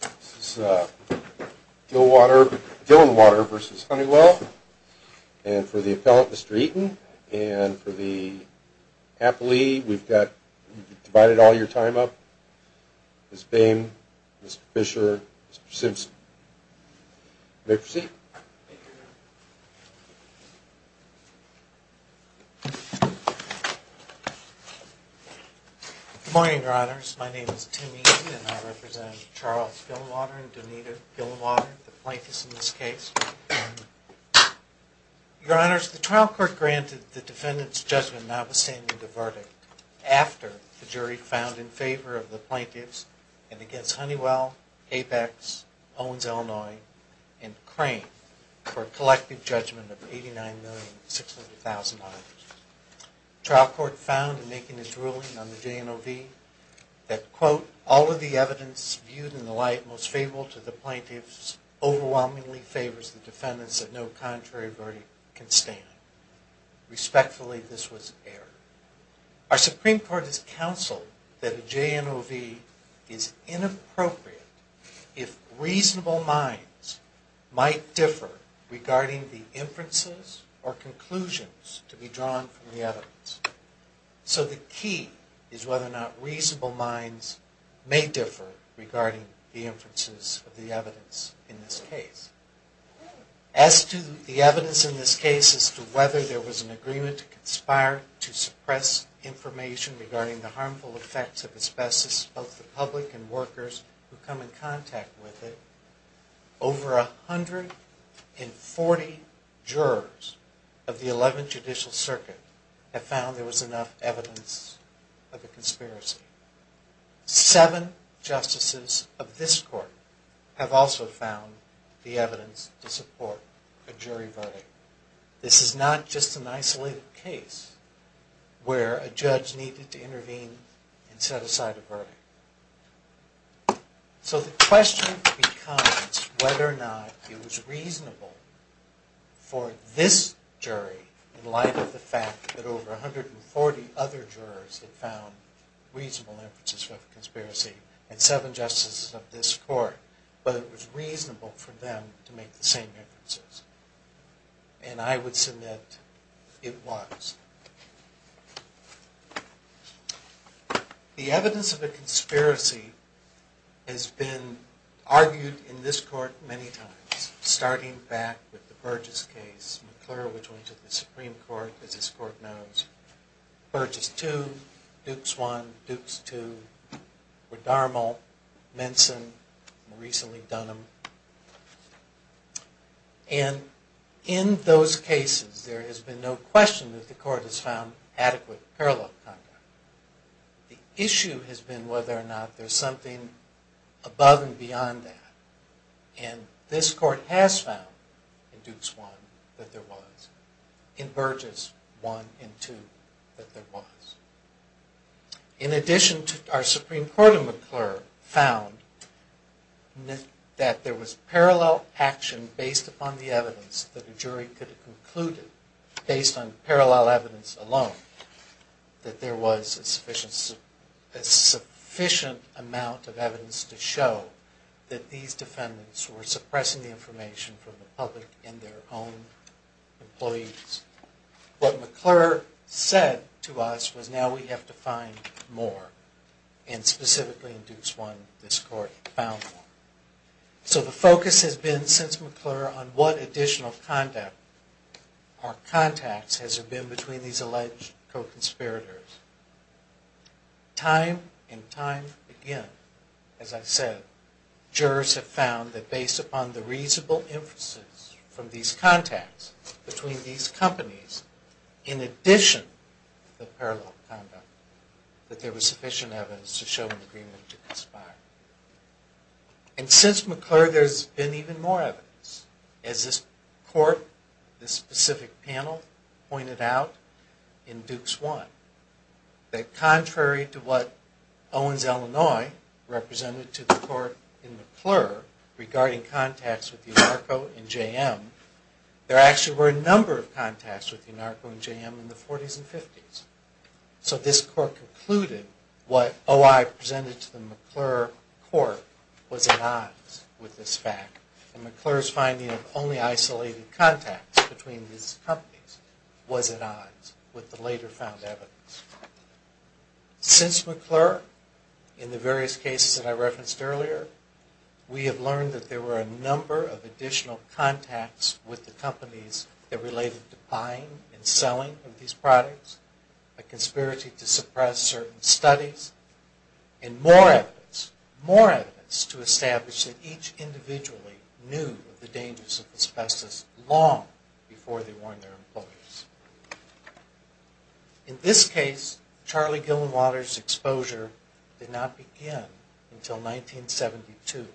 This is Dillenwater v. Honeywell. And for the appellant, Mr. Eaton. And for the appellee, we've divided all your time up. Ms. Boehm, Mr. Fisher, Mr. Simpson. You may proceed. Good morning, Your Honors. My name is Tim Eaton, and I represent Charles Dillenwater and Donita Dillenwater, the plaintiffs in this case. Your Honors, the trial court granted the defendant's judgment notwithstanding the verdict after the jury found in favor of the plaintiffs and against Honeywell, Apex, Owens, Illinois, and Crane for a collective judgment of $89,600,000. The trial court found in making its ruling on the JNOV that, quote, all of the evidence viewed in the light most favorable to the plaintiffs overwhelmingly favors the defendants that no contrary verdict can stand. Respectfully, this was error. Our Supreme Court has counseled that a JNOV is inappropriate if reasonable minds might differ regarding the inferences or conclusions to be drawn from the evidence. So the key is whether or not reasonable minds may differ regarding the inferences of the evidence in this case. As to the evidence in this case as to whether there was an agreement to conspire to suppress information regarding the harmful effects of asbestos, both the public and workers who come in contact with it, over 140 jurors of the 11th Judicial Circuit have found there was enough evidence of a conspiracy. Seven justices of this court have also found the evidence to support a jury verdict. This is not just an isolated case where a judge needed to intervene and set aside a verdict. So the question becomes whether or not it was reasonable for this jury, in light of the fact that over 140 other jurors had found reasonable inferences of a conspiracy, and seven justices of this court, whether it was reasonable for them to make the same inferences. And I would submit it was. The evidence of a conspiracy has been argued in this court many times, starting back with the Burgess case. McClure, which went to the Supreme Court, as this court knows. Burgess 2, Dukes 1, Dukes 2, McDermott, Minson, and recently Dunham. And in those cases, there has been no question that the court has found adequate parallel conduct. The issue has been whether or not there's something above and beyond that. And this court has found, in Dukes 1, that there was. In Burgess 1 and 2, that there was. In addition, our Supreme Court in McClure found that there was parallel action based upon the evidence that a jury could have concluded, based on parallel evidence alone, that there was a sufficient amount of evidence to show that these defendants were suppressing the information from the public and their own employees. What McClure said to us was, now we have to find more. And specifically in Dukes 1, this court found more. So the focus has been, since McClure, on what additional conduct or contacts has there been between these alleged co-conspirators. Time and time again, as I've said, jurors have found that based upon the reasonable inferences from these contacts between these companies, in addition to the parallel conduct, that there was sufficient evidence to show an agreement to conspire. And since McClure, there's been even more evidence. As this court, this specific panel, pointed out in Dukes 1, that contrary to what Owens, Illinois, represented to the court in McClure regarding contacts with UNARCO and JM, there actually were a number of contacts with UNARCO and JM in the 40s and 50s. So this court concluded what OI presented to the McClure court was at odds with this fact. And McClure's finding of only isolated contacts between these companies was at odds with the later found evidence. Since McClure, in the various cases that I referenced earlier, we have learned that there were a number of additional contacts with the companies that related to buying and selling of these products, a conspiracy to suppress certain studies, and more evidence, more evidence to establish that each individually knew of the dangers of asbestos long before they warned their employees. In this case, Charlie Gillenwalder's exposure did not begin until 1972,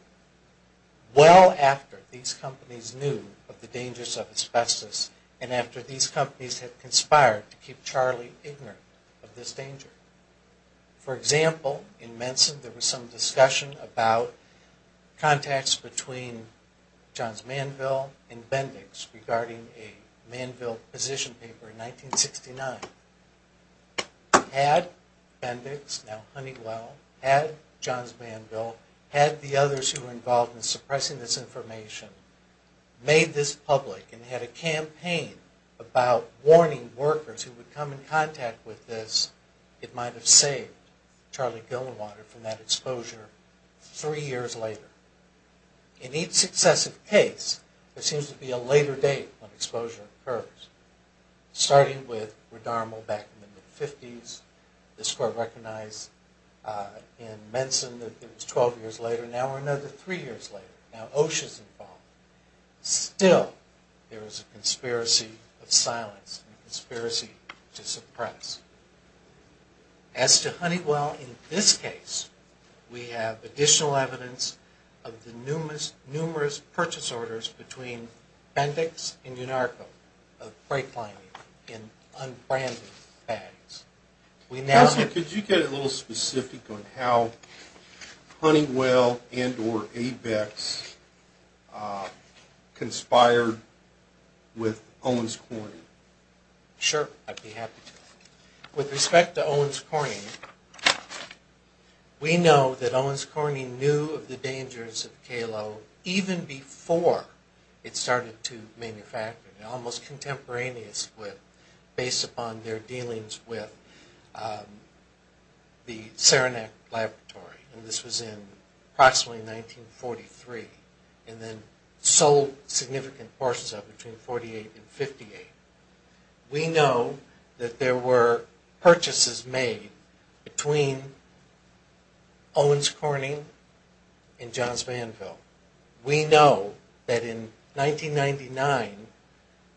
well after these companies knew of the dangers of asbestos and after these companies had conspired to keep Charlie ignorant of this danger. For example, in Menson, there was some discussion about contacts between Johns Manville and Bendix regarding a Manville position paper in 1969. Had Bendix, now Honeywell, had Johns Manville, had the others who were involved in suppressing this information, made this public and had a campaign about warning workers who would come in contact with this, it might have saved Charlie Gillenwalder from that exposure three years later. In each successive case, there seems to be a later date when exposure occurs, starting with Redarmo back in the mid-50s, this court recognized in Menson that it was 12 years later, now we're another three years later, now OSHA's involved. Still, there is a conspiracy of silence, a conspiracy to suppress. As to Honeywell, in this case, we have additional evidence of the numerous purchase orders between Bendix and Unarco of brake lining in unbranded bags. Could you get a little specific on how Honeywell and or ABEX conspired with Owens Corning? Sure, I'd be happy to. With respect to Owens Corning, we know that Owens Corning knew of the dangers of KALO even before it started to manufacture, almost contemporaneous with, based upon their dealings with the Saranac Laboratory. And this was in approximately 1943, and then sold significant portions of it between 1948 and 1958. We know that there were purchases made between Owens Corning and Johns Vanville. We know that in 1999,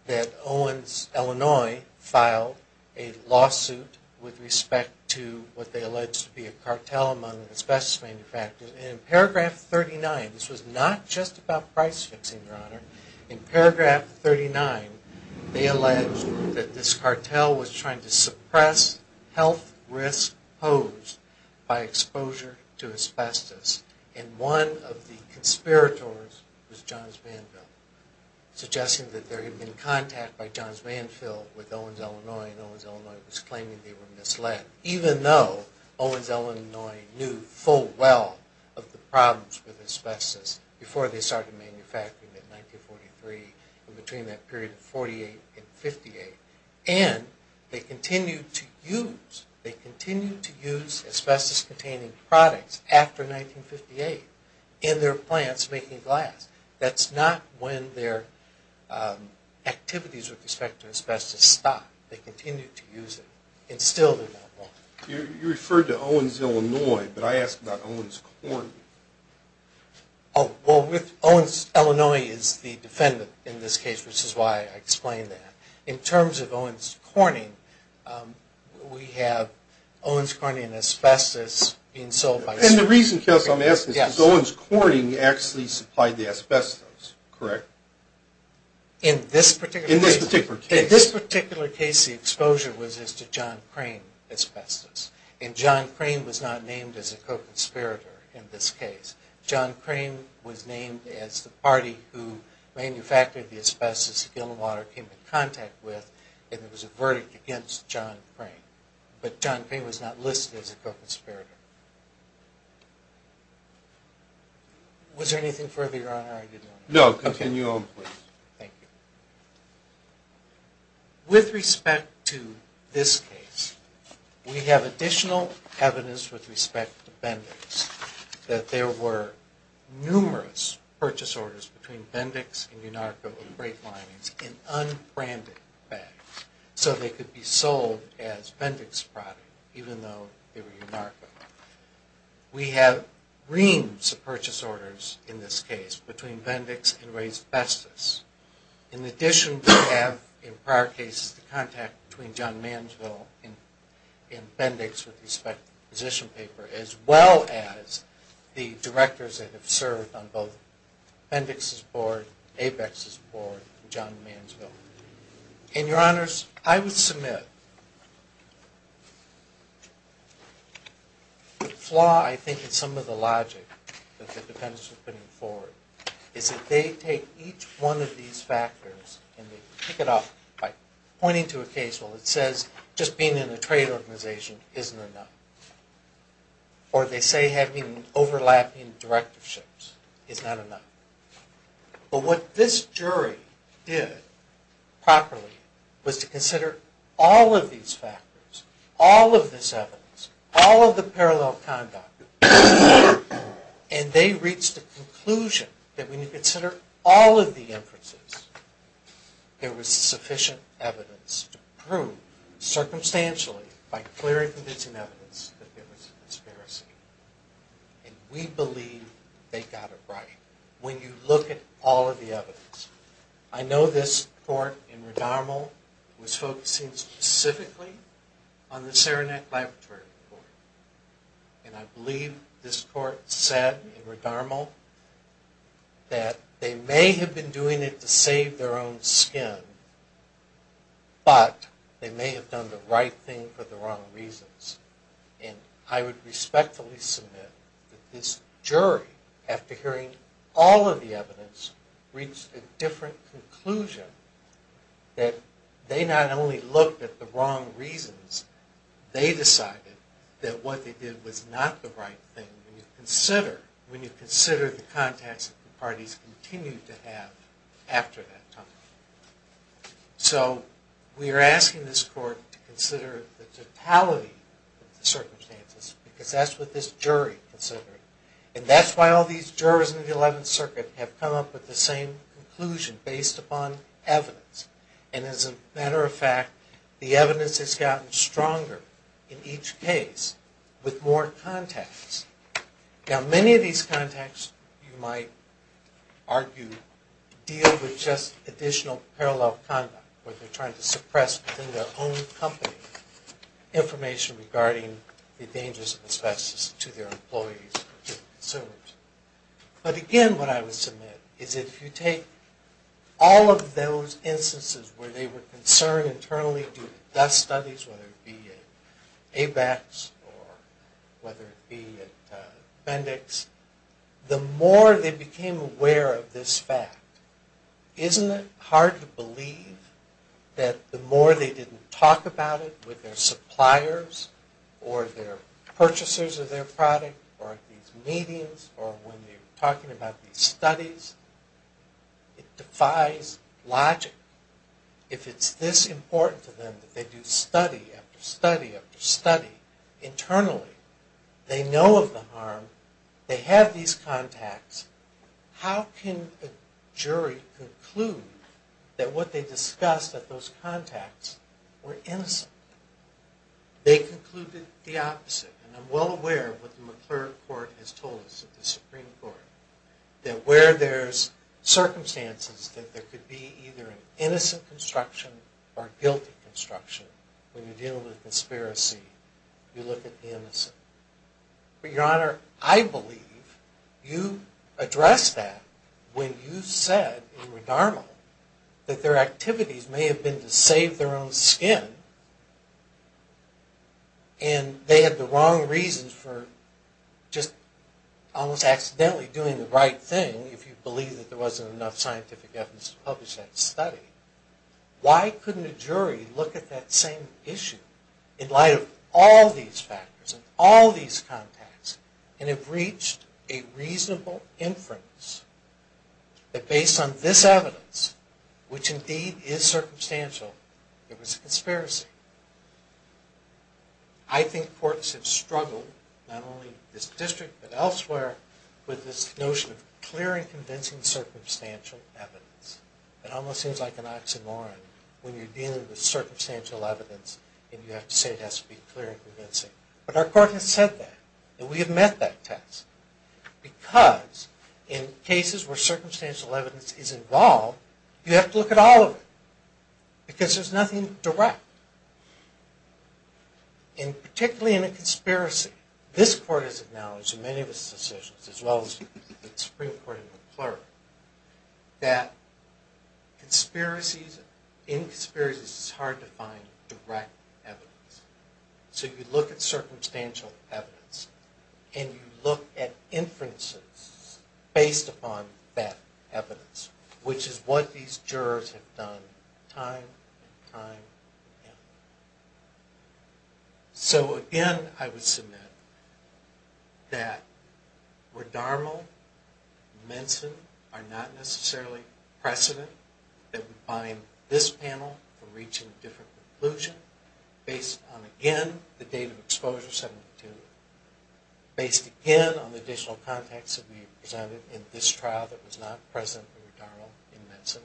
that Owens, Illinois, filed a lawsuit with respect to what they alleged to be a cartel among asbestos manufacturers. And in paragraph 39, this was not just about price fixing, Your Honor. In paragraph 39, they alleged that this cartel was trying to suppress health risks posed by exposure to asbestos. And one of the conspirators was Johns Vanville, suggesting that there had been contact by Johns Vanville with Owens, Illinois, and Owens, Illinois was claiming they were misled, even though Owens, Illinois knew full well of the problems with asbestos before they started manufacturing it in 1943 and between that period of 1948 and 1958. And they continued to use asbestos-containing products after 1958 in their plants making glass. That's not when their activities with respect to asbestos stopped. They continued to use it, and still do not want it. You referred to Owens, Illinois, but I asked about Owens Corning. Oh, well, Owens, Illinois is the defendant in this case, which is why I explained that. In terms of Owens Corning, we have Owens Corning and asbestos being sold by- And the reason, Kels, I'm asking is Owens Corning actually supplied the asbestos, correct? In this particular case- In this particular case. In this particular case, the exposure was as to John Crane asbestos, and John Crane was not named as a co-conspirator in this case. John Crane was named as the party who manufactured the asbestos that Gilwater came in contact with, and there was a verdict against John Crane. But John Crane was not listed as a co-conspirator. Was there anything further, Your Honor? No, continue on, please. Thank you. With respect to this case, we have additional evidence with respect to Bendix that there were numerous purchase orders between Bendix and Unarco of brake linings in unbranded bags so they could be sold as Bendix product, even though they were Unarco. We have reams of purchase orders in this case between Bendix and Ray's Asbestos. In addition, we have in prior cases the contact between John Mansville and Bendix with respect to the position paper, as well as the directors that have served on both Bendix's board, Apex's board, and John Mansville. And, Your Honors, I would submit the flaw, I think, in some of the logic that the defendants are putting forward is that they take each one of these factors and they pick it up by pointing to a case where it says just being in a trade organization isn't enough, or they say having overlapping directorships is not enough. But what this jury did properly was to consider all of these factors, all of this evidence, all of the parallel conduct, and they reached the conclusion that when you consider all of the inferences, there was sufficient evidence to prove, circumstantially, by clear and convincing evidence, that there was a conspiracy. And we believe they got it right when you look at all of the evidence. I know this court in Redarmel was focusing specifically on the Saranac Laboratory Court. And I believe this court said in Redarmel that they may have been doing it to save their own skin, but they may have done the right thing for the wrong reasons. And I would respectfully submit that this jury, after hearing all of the evidence, reached a different conclusion, that they not only looked at the wrong reasons, they decided that what they did was not the right thing when you consider the contacts that the parties continued to have after that time. So we are asking this court to consider the totality of the circumstances because that's what this jury considered. And that's why all these jurors in the Eleventh Circuit have come up with the same conclusion based upon evidence. And as a matter of fact, the evidence has gotten stronger in each case with more contacts. Now, many of these contacts, you might argue, deal with just additional parallel conduct, where they're trying to suppress within their own company information regarding the dangers and asbestos to their employees and consumers. But again, what I would submit is if you take all of those instances where they were concerned internally, whether they do dust studies, whether it be at ABACs or whether it be at Bendix, the more they became aware of this fact, isn't it hard to believe that the more they didn't talk about it with their suppliers or their purchasers of their product or at these meetings or when they were talking about these studies, it defies logic. If it's this important to them that they do study after study after study internally, they know of the harm, they have these contacts, how can a jury conclude that what they discussed at those contacts were innocent? They concluded the opposite. And I'm well aware of what the McClure Court has told us at the Supreme Court, that where there's circumstances that there could be either an innocent construction or a guilty construction, when you deal with a conspiracy, you look at the innocent. But Your Honor, I believe you addressed that when you said in Redarmo that their activities may have been to save their own skin and they had the wrong reasons for just almost accidentally doing the right thing if you believe that there wasn't enough scientific evidence to publish that study. Why couldn't a jury look at that same issue in light of all these factors and all these contacts and have reached a reasonable inference that based on this evidence, which indeed is circumstantial, it was a conspiracy? I think courts have struggled, not only this district but elsewhere, with this notion of clear and convincing circumstantial evidence. It almost seems like an oxymoron when you're dealing with circumstantial evidence and you have to say it has to be clear and convincing. But our court has said that, and we have met that test. Because in cases where circumstantial evidence is involved, you have to look at all of it. Because there's nothing direct. And particularly in a conspiracy, this court has acknowledged in many of its decisions, as well as the Supreme Court and the clerk, that in conspiracies it's hard to find direct evidence. So you look at circumstantial evidence and you look at inferences based upon that evidence, which is what these jurors have done time and time again. So again, I would submit that Redarmo and Minson are not necessarily precedent that would bind this panel from reaching a different conclusion based on, again, the date of exposure, 1972, based again on the additional context that we presented in this trial that was not present in Redarmo and Minson.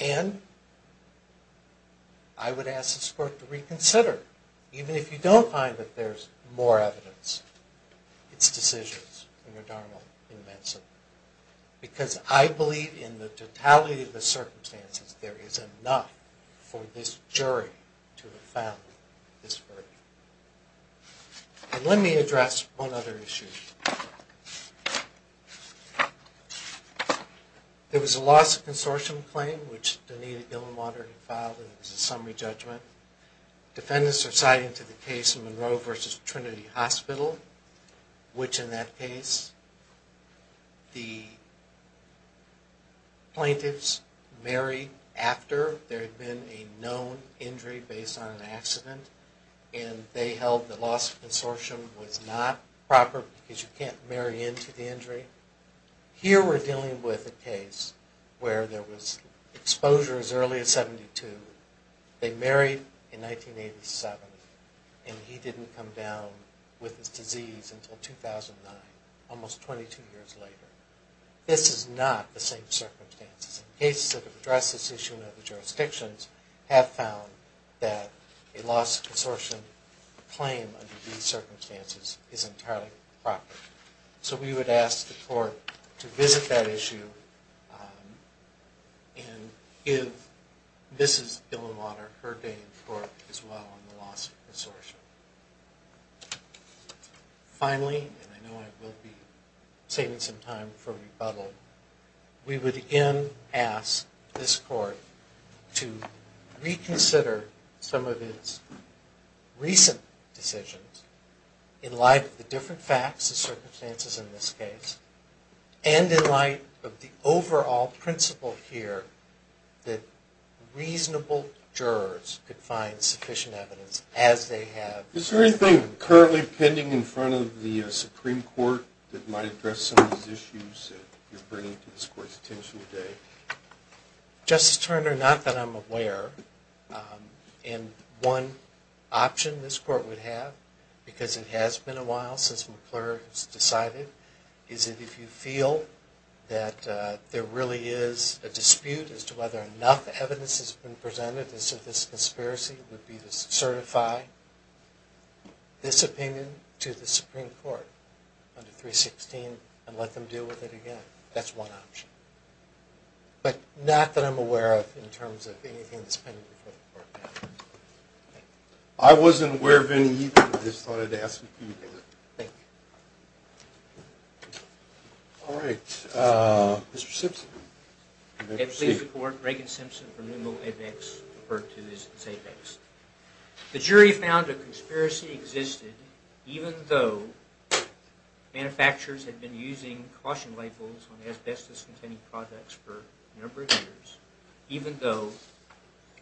And I would ask this court to reconsider, even if you don't find that there's more evidence, its decisions in Redarmo and Minson. Because I believe in the totality of the circumstances, there is enough for this jury to have found this verdict. And let me address one other issue. There was a loss of consortium claim, which Danita Gilmander had filed, and it was a summary judgment. Defendants are citing to the case of Monroe v. Trinity Hospital, which in that case, the plaintiffs married after there had been a known injury based on an accident, and they held the loss of consortium was not proper because you can't marry into the injury. Here we're dealing with a case where there was exposure as early as 1972. They married in 1987, and he didn't come down with this disease until 2009, almost 22 years later. This is not the same circumstances. Cases that have addressed this issue in other jurisdictions have found that a loss of consortium claim under these circumstances is entirely proper. So we would ask the court to visit that issue and give Mrs. Gilmander her day in court as well on the loss of consortium. Finally, and I know I will be saving some time for rebuttal, we would again ask this court to reconsider some of its recent decisions in light of the different facts and circumstances in this case, and in light of the overall principle here that reasonable jurors could find sufficient evidence as they have. Is there anything currently pending in front of the Supreme Court that might address some of these issues that you're bringing to this court's attention today? Justice Turner, not that I'm aware, and one option this court would have, because it has been a while since McClure has decided, is that if you feel that there really is a dispute as to whether enough evidence has been presented as to this conspiracy, it would be to certify this opinion to the Supreme Court under 316 and let them deal with it again. That's one option. But not that I'm aware of in terms of anything that's pending before the court. I wasn't aware of any either. I just thought I'd ask you to do that. Thank you. All right, Mr. Simpson. May it please the court, Reagan Simpson from New Mill Apex, referred to as Apex. The jury found a conspiracy existed even though manufacturers had been using caution labels on asbestos-containing products for a number of years, even though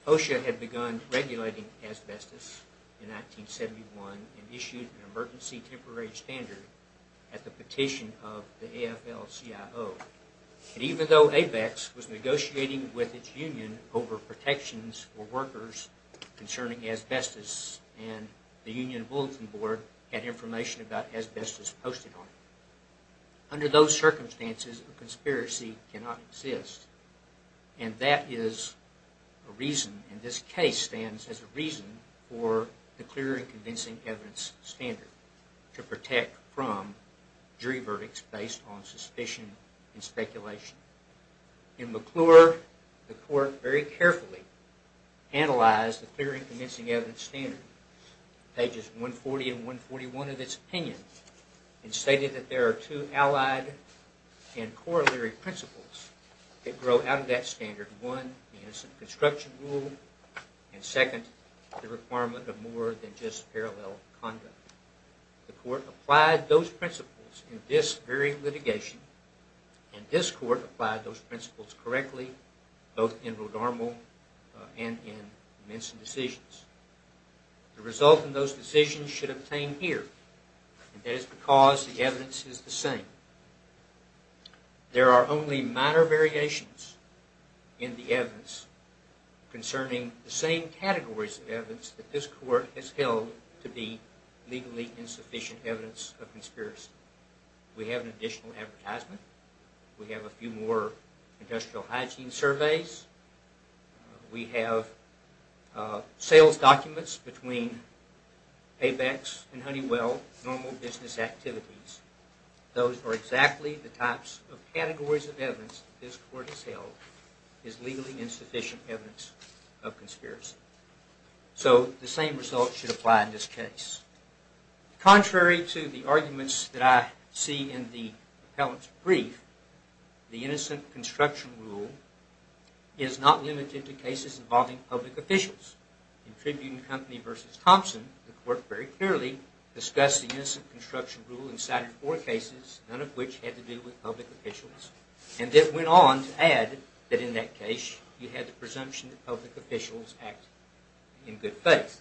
OSHA had begun regulating asbestos in 1971 and issued an emergency temporary standard at the petition of the AFL-CIO, and even though Apex was negotiating with its union over protections for workers concerning asbestos and the Union Bulletin Board had information about asbestos posted on it. Under those circumstances, a conspiracy cannot exist, and that is a reason, and this case stands as a reason for the clear and convincing evidence standard to protect from jury verdicts based on suspicion and speculation. In McClure, the court very carefully analyzed the clear and convincing evidence standard, pages 140 and 141 of its opinion, and stated that there are two allied and corollary principles that grow out of that standard. One is the construction rule, and second, the requirement of more than just parallel conduct. The court applied those principles in this very litigation, and this court applied those principles correctly both in Rodarmo and in Minson decisions. The result in those decisions should obtain here, and that is because the evidence is the same. There are only minor variations in the evidence concerning the same categories of evidence that this court has held to be legally insufficient evidence of conspiracy. We have an additional advertisement. We have a few more industrial hygiene surveys. We have sales documents between Apex and Honeywell, normal business activities. Those are exactly the types of categories of evidence this court has held is legally insufficient evidence of conspiracy. So the same result should apply in this case. Contrary to the arguments that I see in the appellant's brief, the innocent construction rule is not limited to cases involving public officials. In Tribune Company v. Thompson, the court very clearly discussed the innocent construction rule and cited four cases, none of which had to do with public officials, and then went on to add that in that case you had the presumption that public officials act in good faith.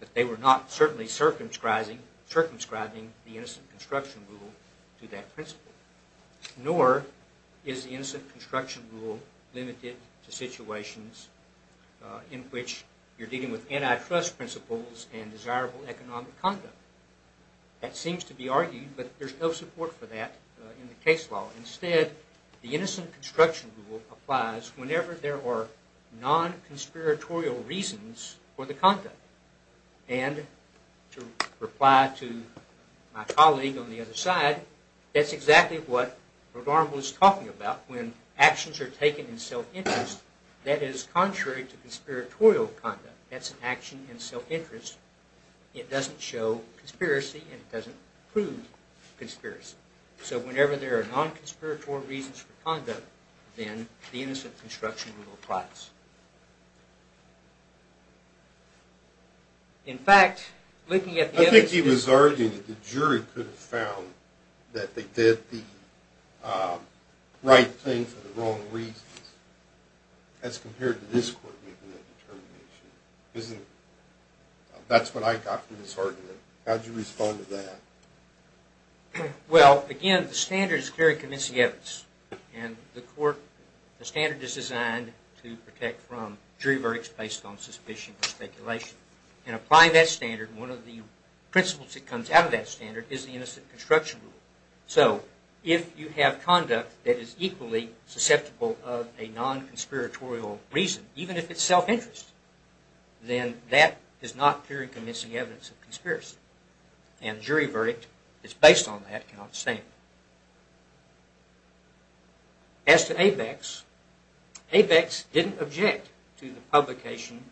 But they were not certainly circumscribing the innocent construction rule to that principle. Nor is the innocent construction rule limited to situations in which you're dealing with antitrust principles and desirable economic conduct. That seems to be argued, but there's no support for that in the case law. Instead, the innocent construction rule applies whenever there are non-conspiratorial reasons for the conduct. And to reply to my colleague on the other side, that's exactly what Rhode Island was talking about when actions are taken in self-interest. That is contrary to conspiratorial conduct. That's an action in self-interest. It doesn't show conspiracy and it doesn't prove conspiracy. So whenever there are non-conspiratorial reasons for conduct, then the innocent construction rule applies. In fact, looking at the evidence... I think he was arguing that the jury could have found that they did the right thing for the wrong reasons. As compared to this court making that determination. That's what I got from this argument. How do you respond to that? Well, again, the standard is clear in convincing evidence. And the standard is designed to protect from jury verdicts based on suspicion and speculation. And applying that standard, one of the principles that comes out of that standard is the innocent construction rule. So if you have conduct that is equally susceptible of a non-conspiratorial reason, even if it's self-interest, then that is not clear in convincing evidence of conspiracy. And jury verdict that's based on that cannot stand. As to ABEX, ABEX didn't object to the publication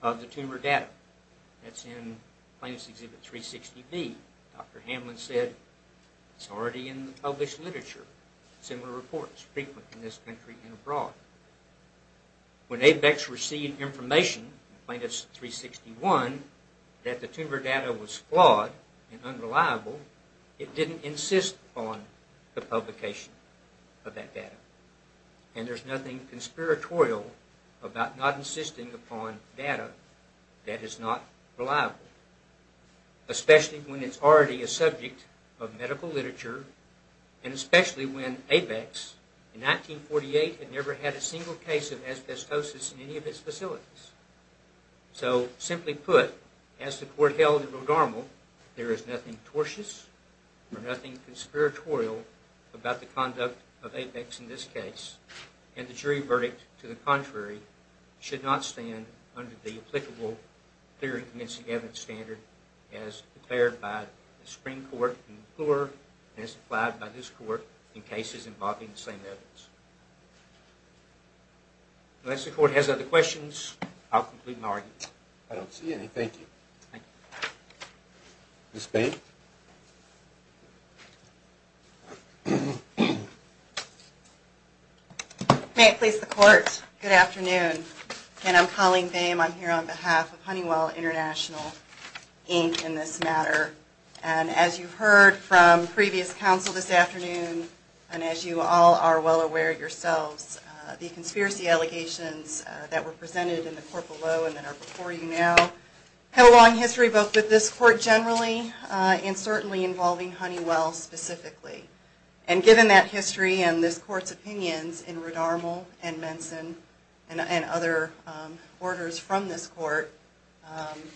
of the tumor data. That's in Plaintiff's Exhibit 360B. Dr. Hamlin said it's already in the published literature. Similar reports frequent in this country and abroad. When ABEX received information in Plaintiff's 361 that the tumor data was flawed and unreliable, it didn't insist upon the publication of that data. And there's nothing conspiratorial about not insisting upon data that is not reliable. Especially when it's already a subject of medical literature. And especially when ABEX, in 1948, had never had a single case of asbestosis in any of its facilities. So, simply put, as the court held in Rhode Armour, there is nothing tortious or nothing conspiratorial about the conduct of ABEX in this case. And the jury verdict, to the contrary, should not stand under the applicable clear and convincing evidence standard as declared by the Supreme Court in McClure and as applied by this court in cases involving the same evidence. Unless the court has other questions, I'll complete my argument. I don't see any. Thank you. Thank you. Ms. Bain? May it please the court. Good afternoon. Again, I'm Colleen Bain. I'm here on behalf of Honeywell International, Inc. in this matter. And as you heard from previous counsel this afternoon, and as you all are well aware yourselves, the conspiracy allegations that were presented in the court below and that are before you now have a long history both with this court generally and certainly involving Honeywell specifically. And given that history and this court's opinions in Rhode Armour and Menson and other orders from this court,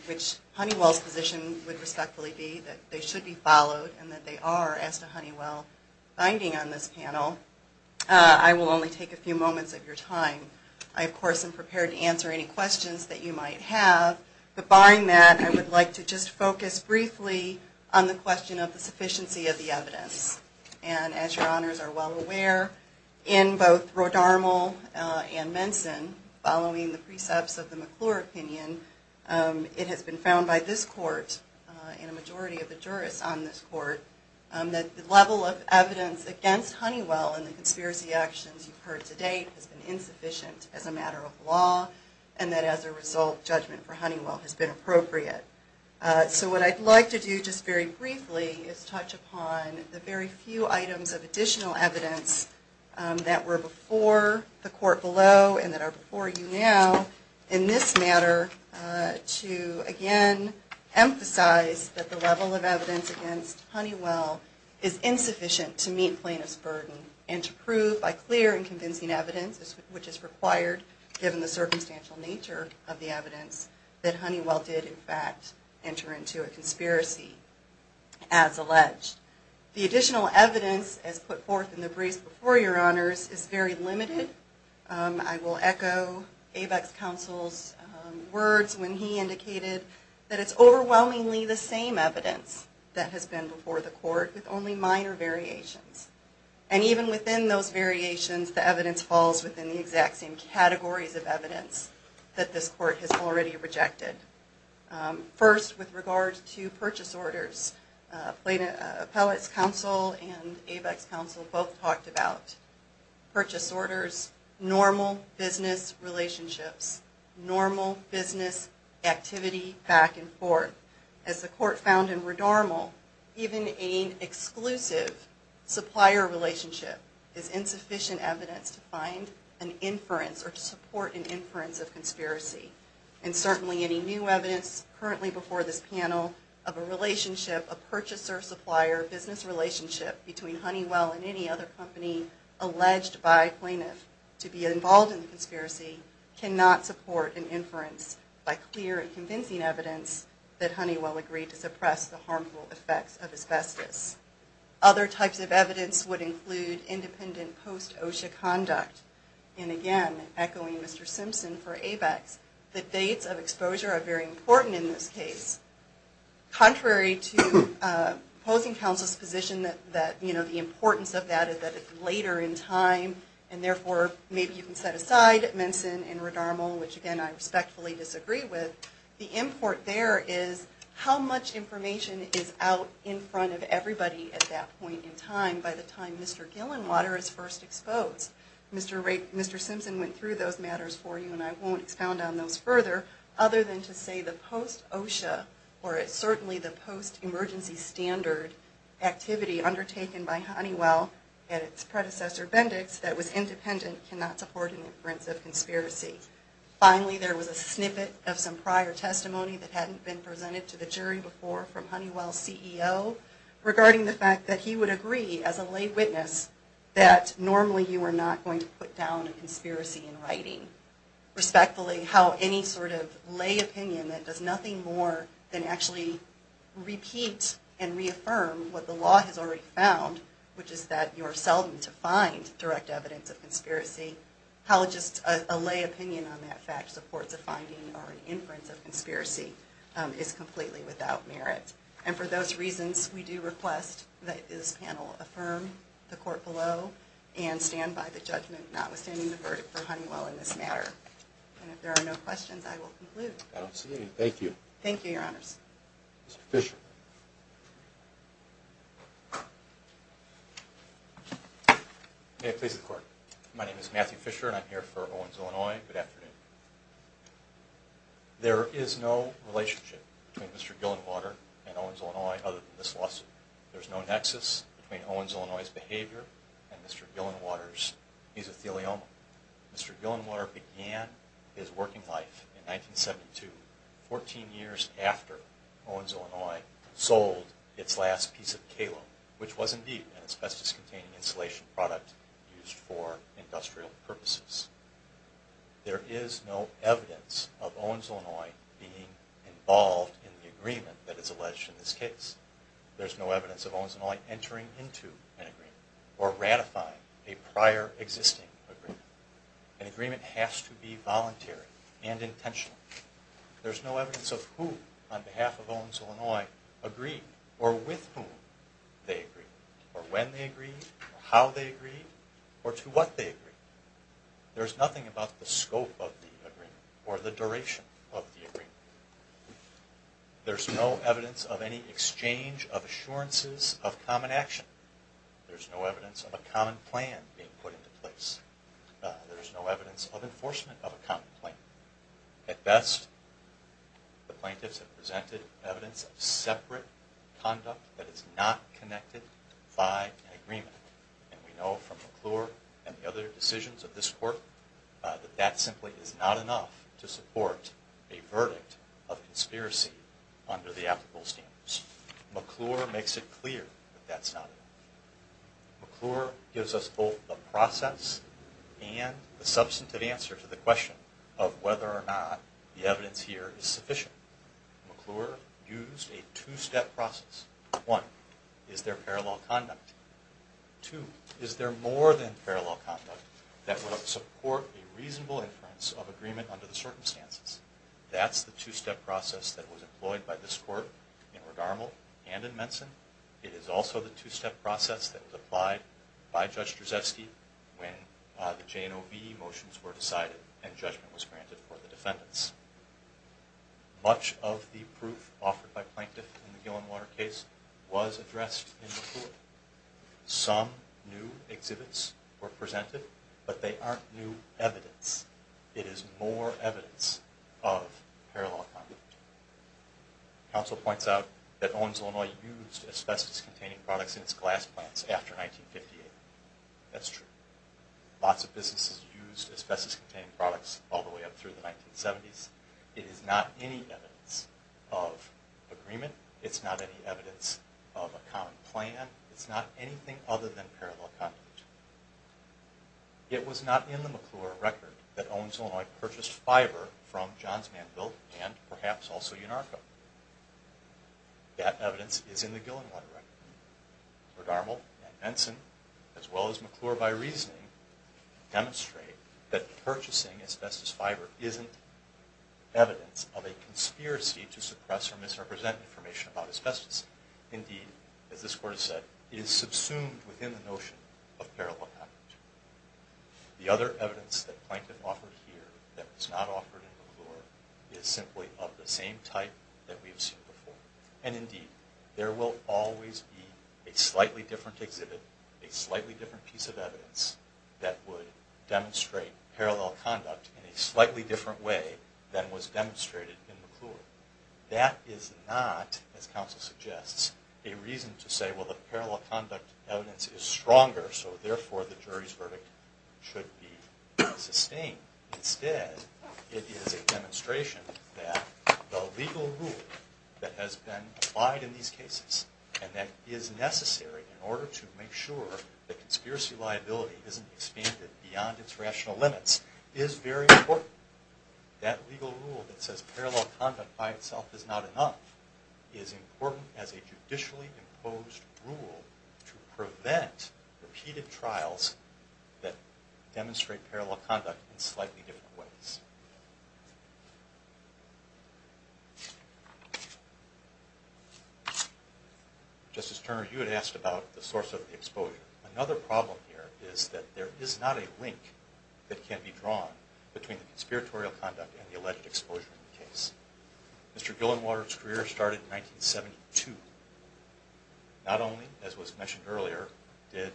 which Honeywell's position would respectfully be that they should be followed and that they are, as to Honeywell's finding on this panel, I will only take a few moments of your time. I, of course, am prepared to answer any questions that you might have. But barring that, I would like to just focus briefly on the question of the sufficiency of the evidence. And as your honors are well aware, in both Rhode Armour and Menson, following the precepts of the McClure opinion, it has been found by this court and a majority of the jurists on this court that the level of evidence against Honeywell and the conspiracy actions you've heard to date has been insufficient as a matter of law and that as a result, judgment for Honeywell has been appropriate. So what I'd like to do just very briefly is touch upon the very few items of additional evidence that were before the court below and that are before you now in this matter to, again, emphasize that the level of evidence against Honeywell is insufficient to meet plaintiff's burden and to prove by clear and convincing evidence, which is required given the circumstantial nature of the evidence, that Honeywell did, in fact, enter into a conspiracy, as alleged. The additional evidence as put forth in the briefs before your honors is very limited. I will echo Avex Counsel's words when he indicated that it's overwhelmingly the same evidence that has been before the court with only minor variations. And even within those variations, the evidence falls within the exact same categories of evidence that this court has already rejected. First, with regard to purchase orders, Appellate's Counsel and Avex Counsel both talked about purchase orders, normal business relationships, normal business activity back and forth. As the court found in Redormal, even an exclusive supplier relationship is insufficient evidence to find an inference or to support an inference of conspiracy. And certainly any new evidence currently before this panel of a relationship, a purchaser-supplier business relationship between Honeywell and any other company alleged by plaintiff to be involved in the conspiracy cannot support an inference by clear and convincing evidence that Honeywell agreed to suppress the harmful effects of asbestos. Other types of evidence would include independent post-OSHA conduct. And again, echoing Mr. Simpson for Avex, the dates of exposure are very important in this case. Contrary to opposing counsel's position that the importance of that is that it's later in time and therefore maybe you can set aside Minson and Redormal, which again I respectfully disagree with, the import there is how much information is out in front of everybody at that point in time by the time Mr. Gillenwater is first exposed. Mr. Simpson went through those matters for you and I won't expound on those further other than to say the post-OSHA or certainly the post-emergency standard activity undertaken by Honeywell and its predecessor Bendix that was independent cannot support an inference of conspiracy. Finally, there was a snippet of some prior testimony that hadn't been presented to the jury before from Honeywell's CEO regarding the fact that he would agree as a lay witness that normally you are not going to put down a conspiracy in writing. Respectfully, how any sort of lay opinion that does nothing more than actually repeat and reaffirm what the law has already found, which is that you are seldom to find direct evidence of conspiracy, how just a lay opinion on that fact supports a finding or an inference of conspiracy is completely without merit. And for those reasons, we do request that this panel affirm the court below and stand by the judgment, notwithstanding the verdict for Honeywell in this matter. And if there are no questions, I will conclude. I don't see any. Thank you. Thank you, Your Honors. Mr. Fisher. May it please the Court. My name is Matthew Fisher and I'm here for Owens, Illinois. Good afternoon. There is no relationship between Mr. Gillenwater and Owens, Illinois, other than this lawsuit. There's no nexus between Owens, Illinois' behavior and Mr. Gillenwater's mesothelioma. Mr. Gillenwater began his working life in 1972, 14 years after Owens, Illinois sold its last piece of Kalo, which was indeed an asbestos-containing insulation product used for industrial purposes. There is no evidence of Owens, Illinois being involved in the agreement that is alleged in this case. There's no evidence of Owens, Illinois entering into an agreement or ratifying a prior existing agreement. An agreement has to be voluntary and intentional. There's no evidence of who, on behalf of Owens, Illinois, agreed, or with whom they agreed, or when they agreed, or how they agreed, or to what they agreed. There's nothing about the scope of the agreement or the duration of the agreement. There's no evidence of any exchange of assurances of common action. There's no evidence of a common plan being put into place. There's no evidence of enforcement of a common plan. At best, the plaintiffs have presented evidence of separate conduct that is not connected by an agreement. And we know from McClure and the other decisions of this court, that that simply is not enough to support a verdict of conspiracy under the applicable standards. McClure makes it clear that that's not enough. McClure gives us both the process and the substantive answer to the question of whether or not the evidence here is sufficient. McClure used a two-step process. One, is there parallel conduct? Two, is there more than parallel conduct that would support a reasonable inference of agreement under the circumstances? That's the two-step process that was employed by this court in Ridarmal and in Menson. It is also the two-step process that was applied by Judge Drzefski when the J&OB motions were decided and judgment was granted for the defendants. Much of the proof offered by plaintiffs in the Gillenwater case was addressed in McClure. Some new exhibits were presented, but they aren't new evidence. It is more evidence of parallel conduct. Counsel points out that Owens, Illinois used asbestos-containing products in its glass plants after 1958. That's true. Lots of businesses used asbestos-containing products all the way up through the 1970s. It is not any evidence of agreement. It's not any evidence of a common plan. It's not anything other than parallel conduct. It was not in the McClure record that Owens, Illinois purchased fiber from Johns Manville and perhaps also Unarco. That evidence is in the Gillenwater record. Ridarmal and Menson, as well as McClure by reasoning, demonstrate that purchasing asbestos fiber isn't evidence of a conspiracy to suppress or misrepresent information about asbestos. Indeed, as this Court has said, it is subsumed within the notion of parallel conduct. The other evidence that Plaintiff offered here that was not offered in McClure is simply of the same type that we have seen before. And indeed, there will always be a slightly different exhibit, a slightly different piece of evidence, that would demonstrate parallel conduct in a slightly different way than was demonstrated in McClure. That is not, as counsel suggests, a reason to say, well, the parallel conduct evidence is stronger, so therefore the jury's verdict should be sustained. Instead, it is a demonstration that the legal rule that has been applied in these cases and that is necessary in order to make sure the conspiracy liability isn't expanded beyond its rational limits, is very important. That legal rule that says parallel conduct by itself is not enough is important as a judicially imposed rule to prevent repeated trials that demonstrate parallel conduct in slightly different ways. Justice Turner, you had asked about the source of the exposure. Another problem here is that there is not a link that can be drawn between the conspiratorial conduct and the alleged exposure in the case. Mr. Gillenwater's career started in 1972. Not only, as was mentioned earlier, did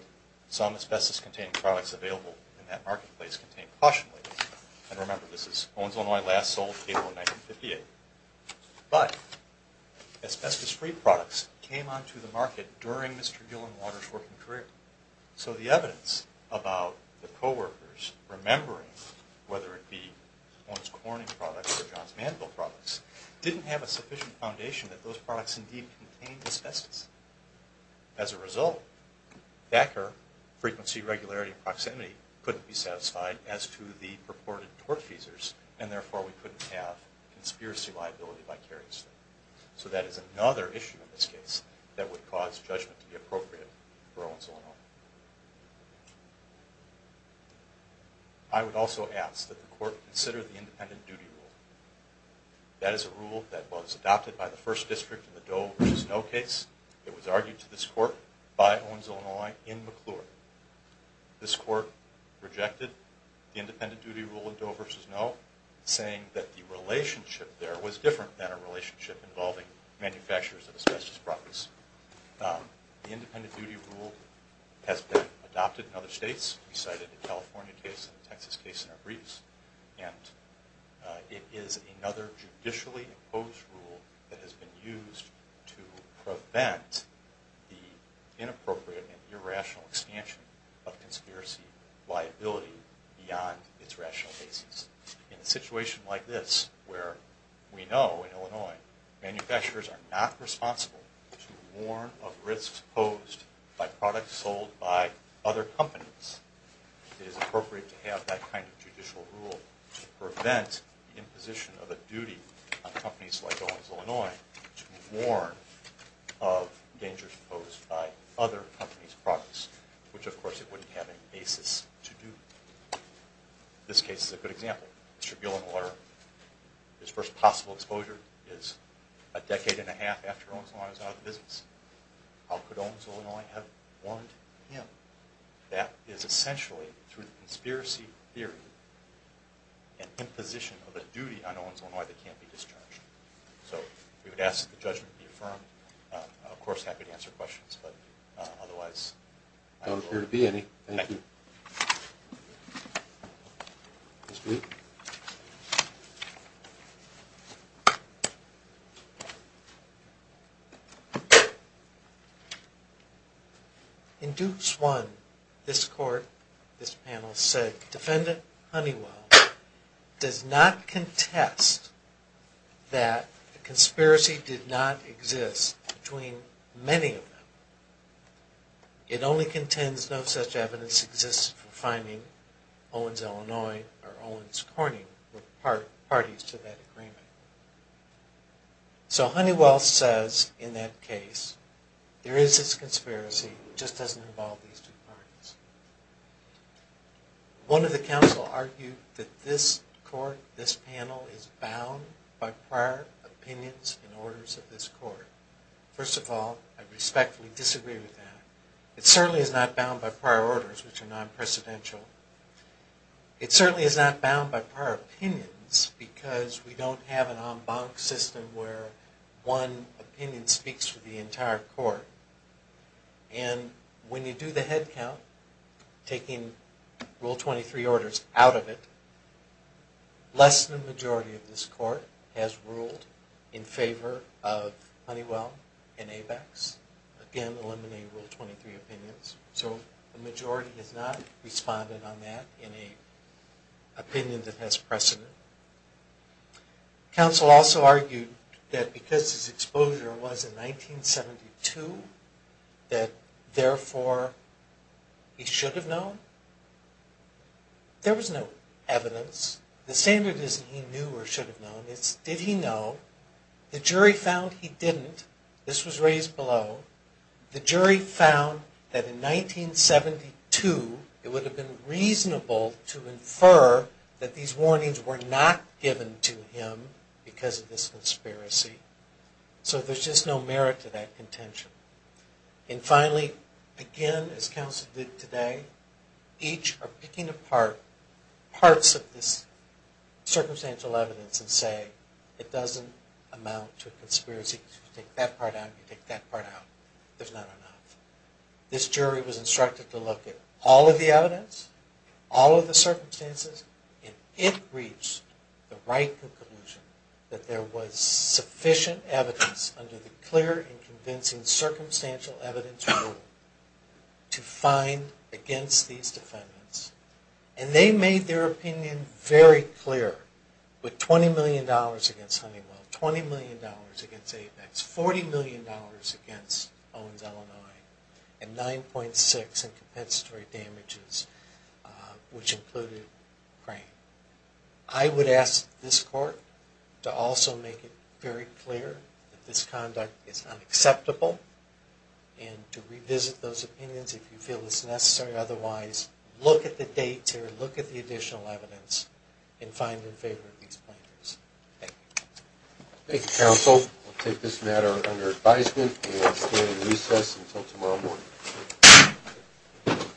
some asbestos-containing products available in that marketplace contain caution labels, and remember this is Owens, Illinois last sold cable in 1958, but asbestos-free products came onto the market during Mr. Gillenwater's working career. So the evidence about the co-workers remembering, whether it be Owens Corning products or Johns Manville products, didn't have a sufficient foundation that those products indeed contained asbestos. As a result, DACR, frequency, regularity, and proximity, couldn't be satisfied as to the purported tort feasors, and therefore we couldn't have conspiracy liability vicariously. So that is another issue in this case that would cause judgment to be appropriate for Owens, Illinois. I would also ask that the court consider the independent duty rule. That is a rule that was adopted by the First District in the Doe v. No case. It was argued to this court by Owens, Illinois in McClure. This court rejected the independent duty rule in Doe v. No, saying that the relationship there was different than a relationship involving manufacturers of asbestos products. The independent duty rule has been adopted in other states. We cited the California case and the Texas case in our briefs. It is another judicially opposed rule that has been used to prevent the inappropriate and irrational expansion of conspiracy liability beyond its rational basis. In a situation like this, where we know, in Illinois, manufacturers are not responsible to warn of risks posed by products sold by other companies, it is appropriate to have that kind of judicial rule to prevent the imposition of a duty on companies like Owens, Illinois to warn of dangers posed by other companies' products, which, of course, it wouldn't have any basis to do. This case is a good example. Mr. Gill in the water. His first possible exposure is a decade and a half after Owens, Illinois was out of the business. How could Owens, Illinois have warned him? That is essentially, through the conspiracy theory, an imposition of a duty on Owens, Illinois that can't be discharged. So we would ask that the judgment be affirmed. I'm, of course, happy to answer questions, but otherwise, I don't know. I don't appear to be any. Thank you. Thank you. In Dukes 1, this panel said, Defendant Honeywell does not contest that the conspiracy did not exist between many of them. It only contends no such evidence exists for finding Owens, Illinois or Owens Corning were parties to that agreement. So Honeywell says in that case, there is this conspiracy, it just doesn't involve these two parties. One of the counsel argued that this court, this panel, is bound by prior opinions and orders of this court. First of all, I respectfully disagree with that. It certainly is not bound by prior orders, which are non-precedential. It certainly is not bound by prior opinions, because we don't have an en banc system where one opinion speaks for the entire court. And when you do the head count, taking Rule 23 orders out of it, less than the majority of this court has ruled in favor of Honeywell and ABEX. Again, eliminating Rule 23 opinions. So the majority has not responded on that in an opinion that has precedent. Counsel also argued that because his exposure was in 1972, that therefore he should have known. There was no evidence. The standard is he knew or should have known. It's did he know. The jury found he didn't. This was raised below. The jury found that in 1972 it would have been reasonable to infer that these warnings were not given to him because of this conspiracy. So there's just no merit to that contention. And finally, again, as counsel did today, each are picking apart parts of this circumstantial evidence and say it doesn't amount to a conspiracy. You take that part out, you take that part out. There's not enough. This jury was instructed to look at all of the evidence, all of the circumstances, and it reached the right conclusion that there was sufficient evidence under the clear and convincing circumstantial evidence rule to find against these defendants. And they made their opinion very clear with $20 million against Honeywell, $20 million against Apex, $40 million against Owens-Illinois, and $9.6 million in compensatory damages, which included Crane. I would ask this court to also make it very clear that this conduct is unacceptable and to revisit those opinions if you feel it's necessary. Otherwise, look at the dates here, look at the additional evidence, and find in favor of these plaintiffs. Thank you. Thank you, counsel. We'll take this matter under advisement and stand in recess until tomorrow morning.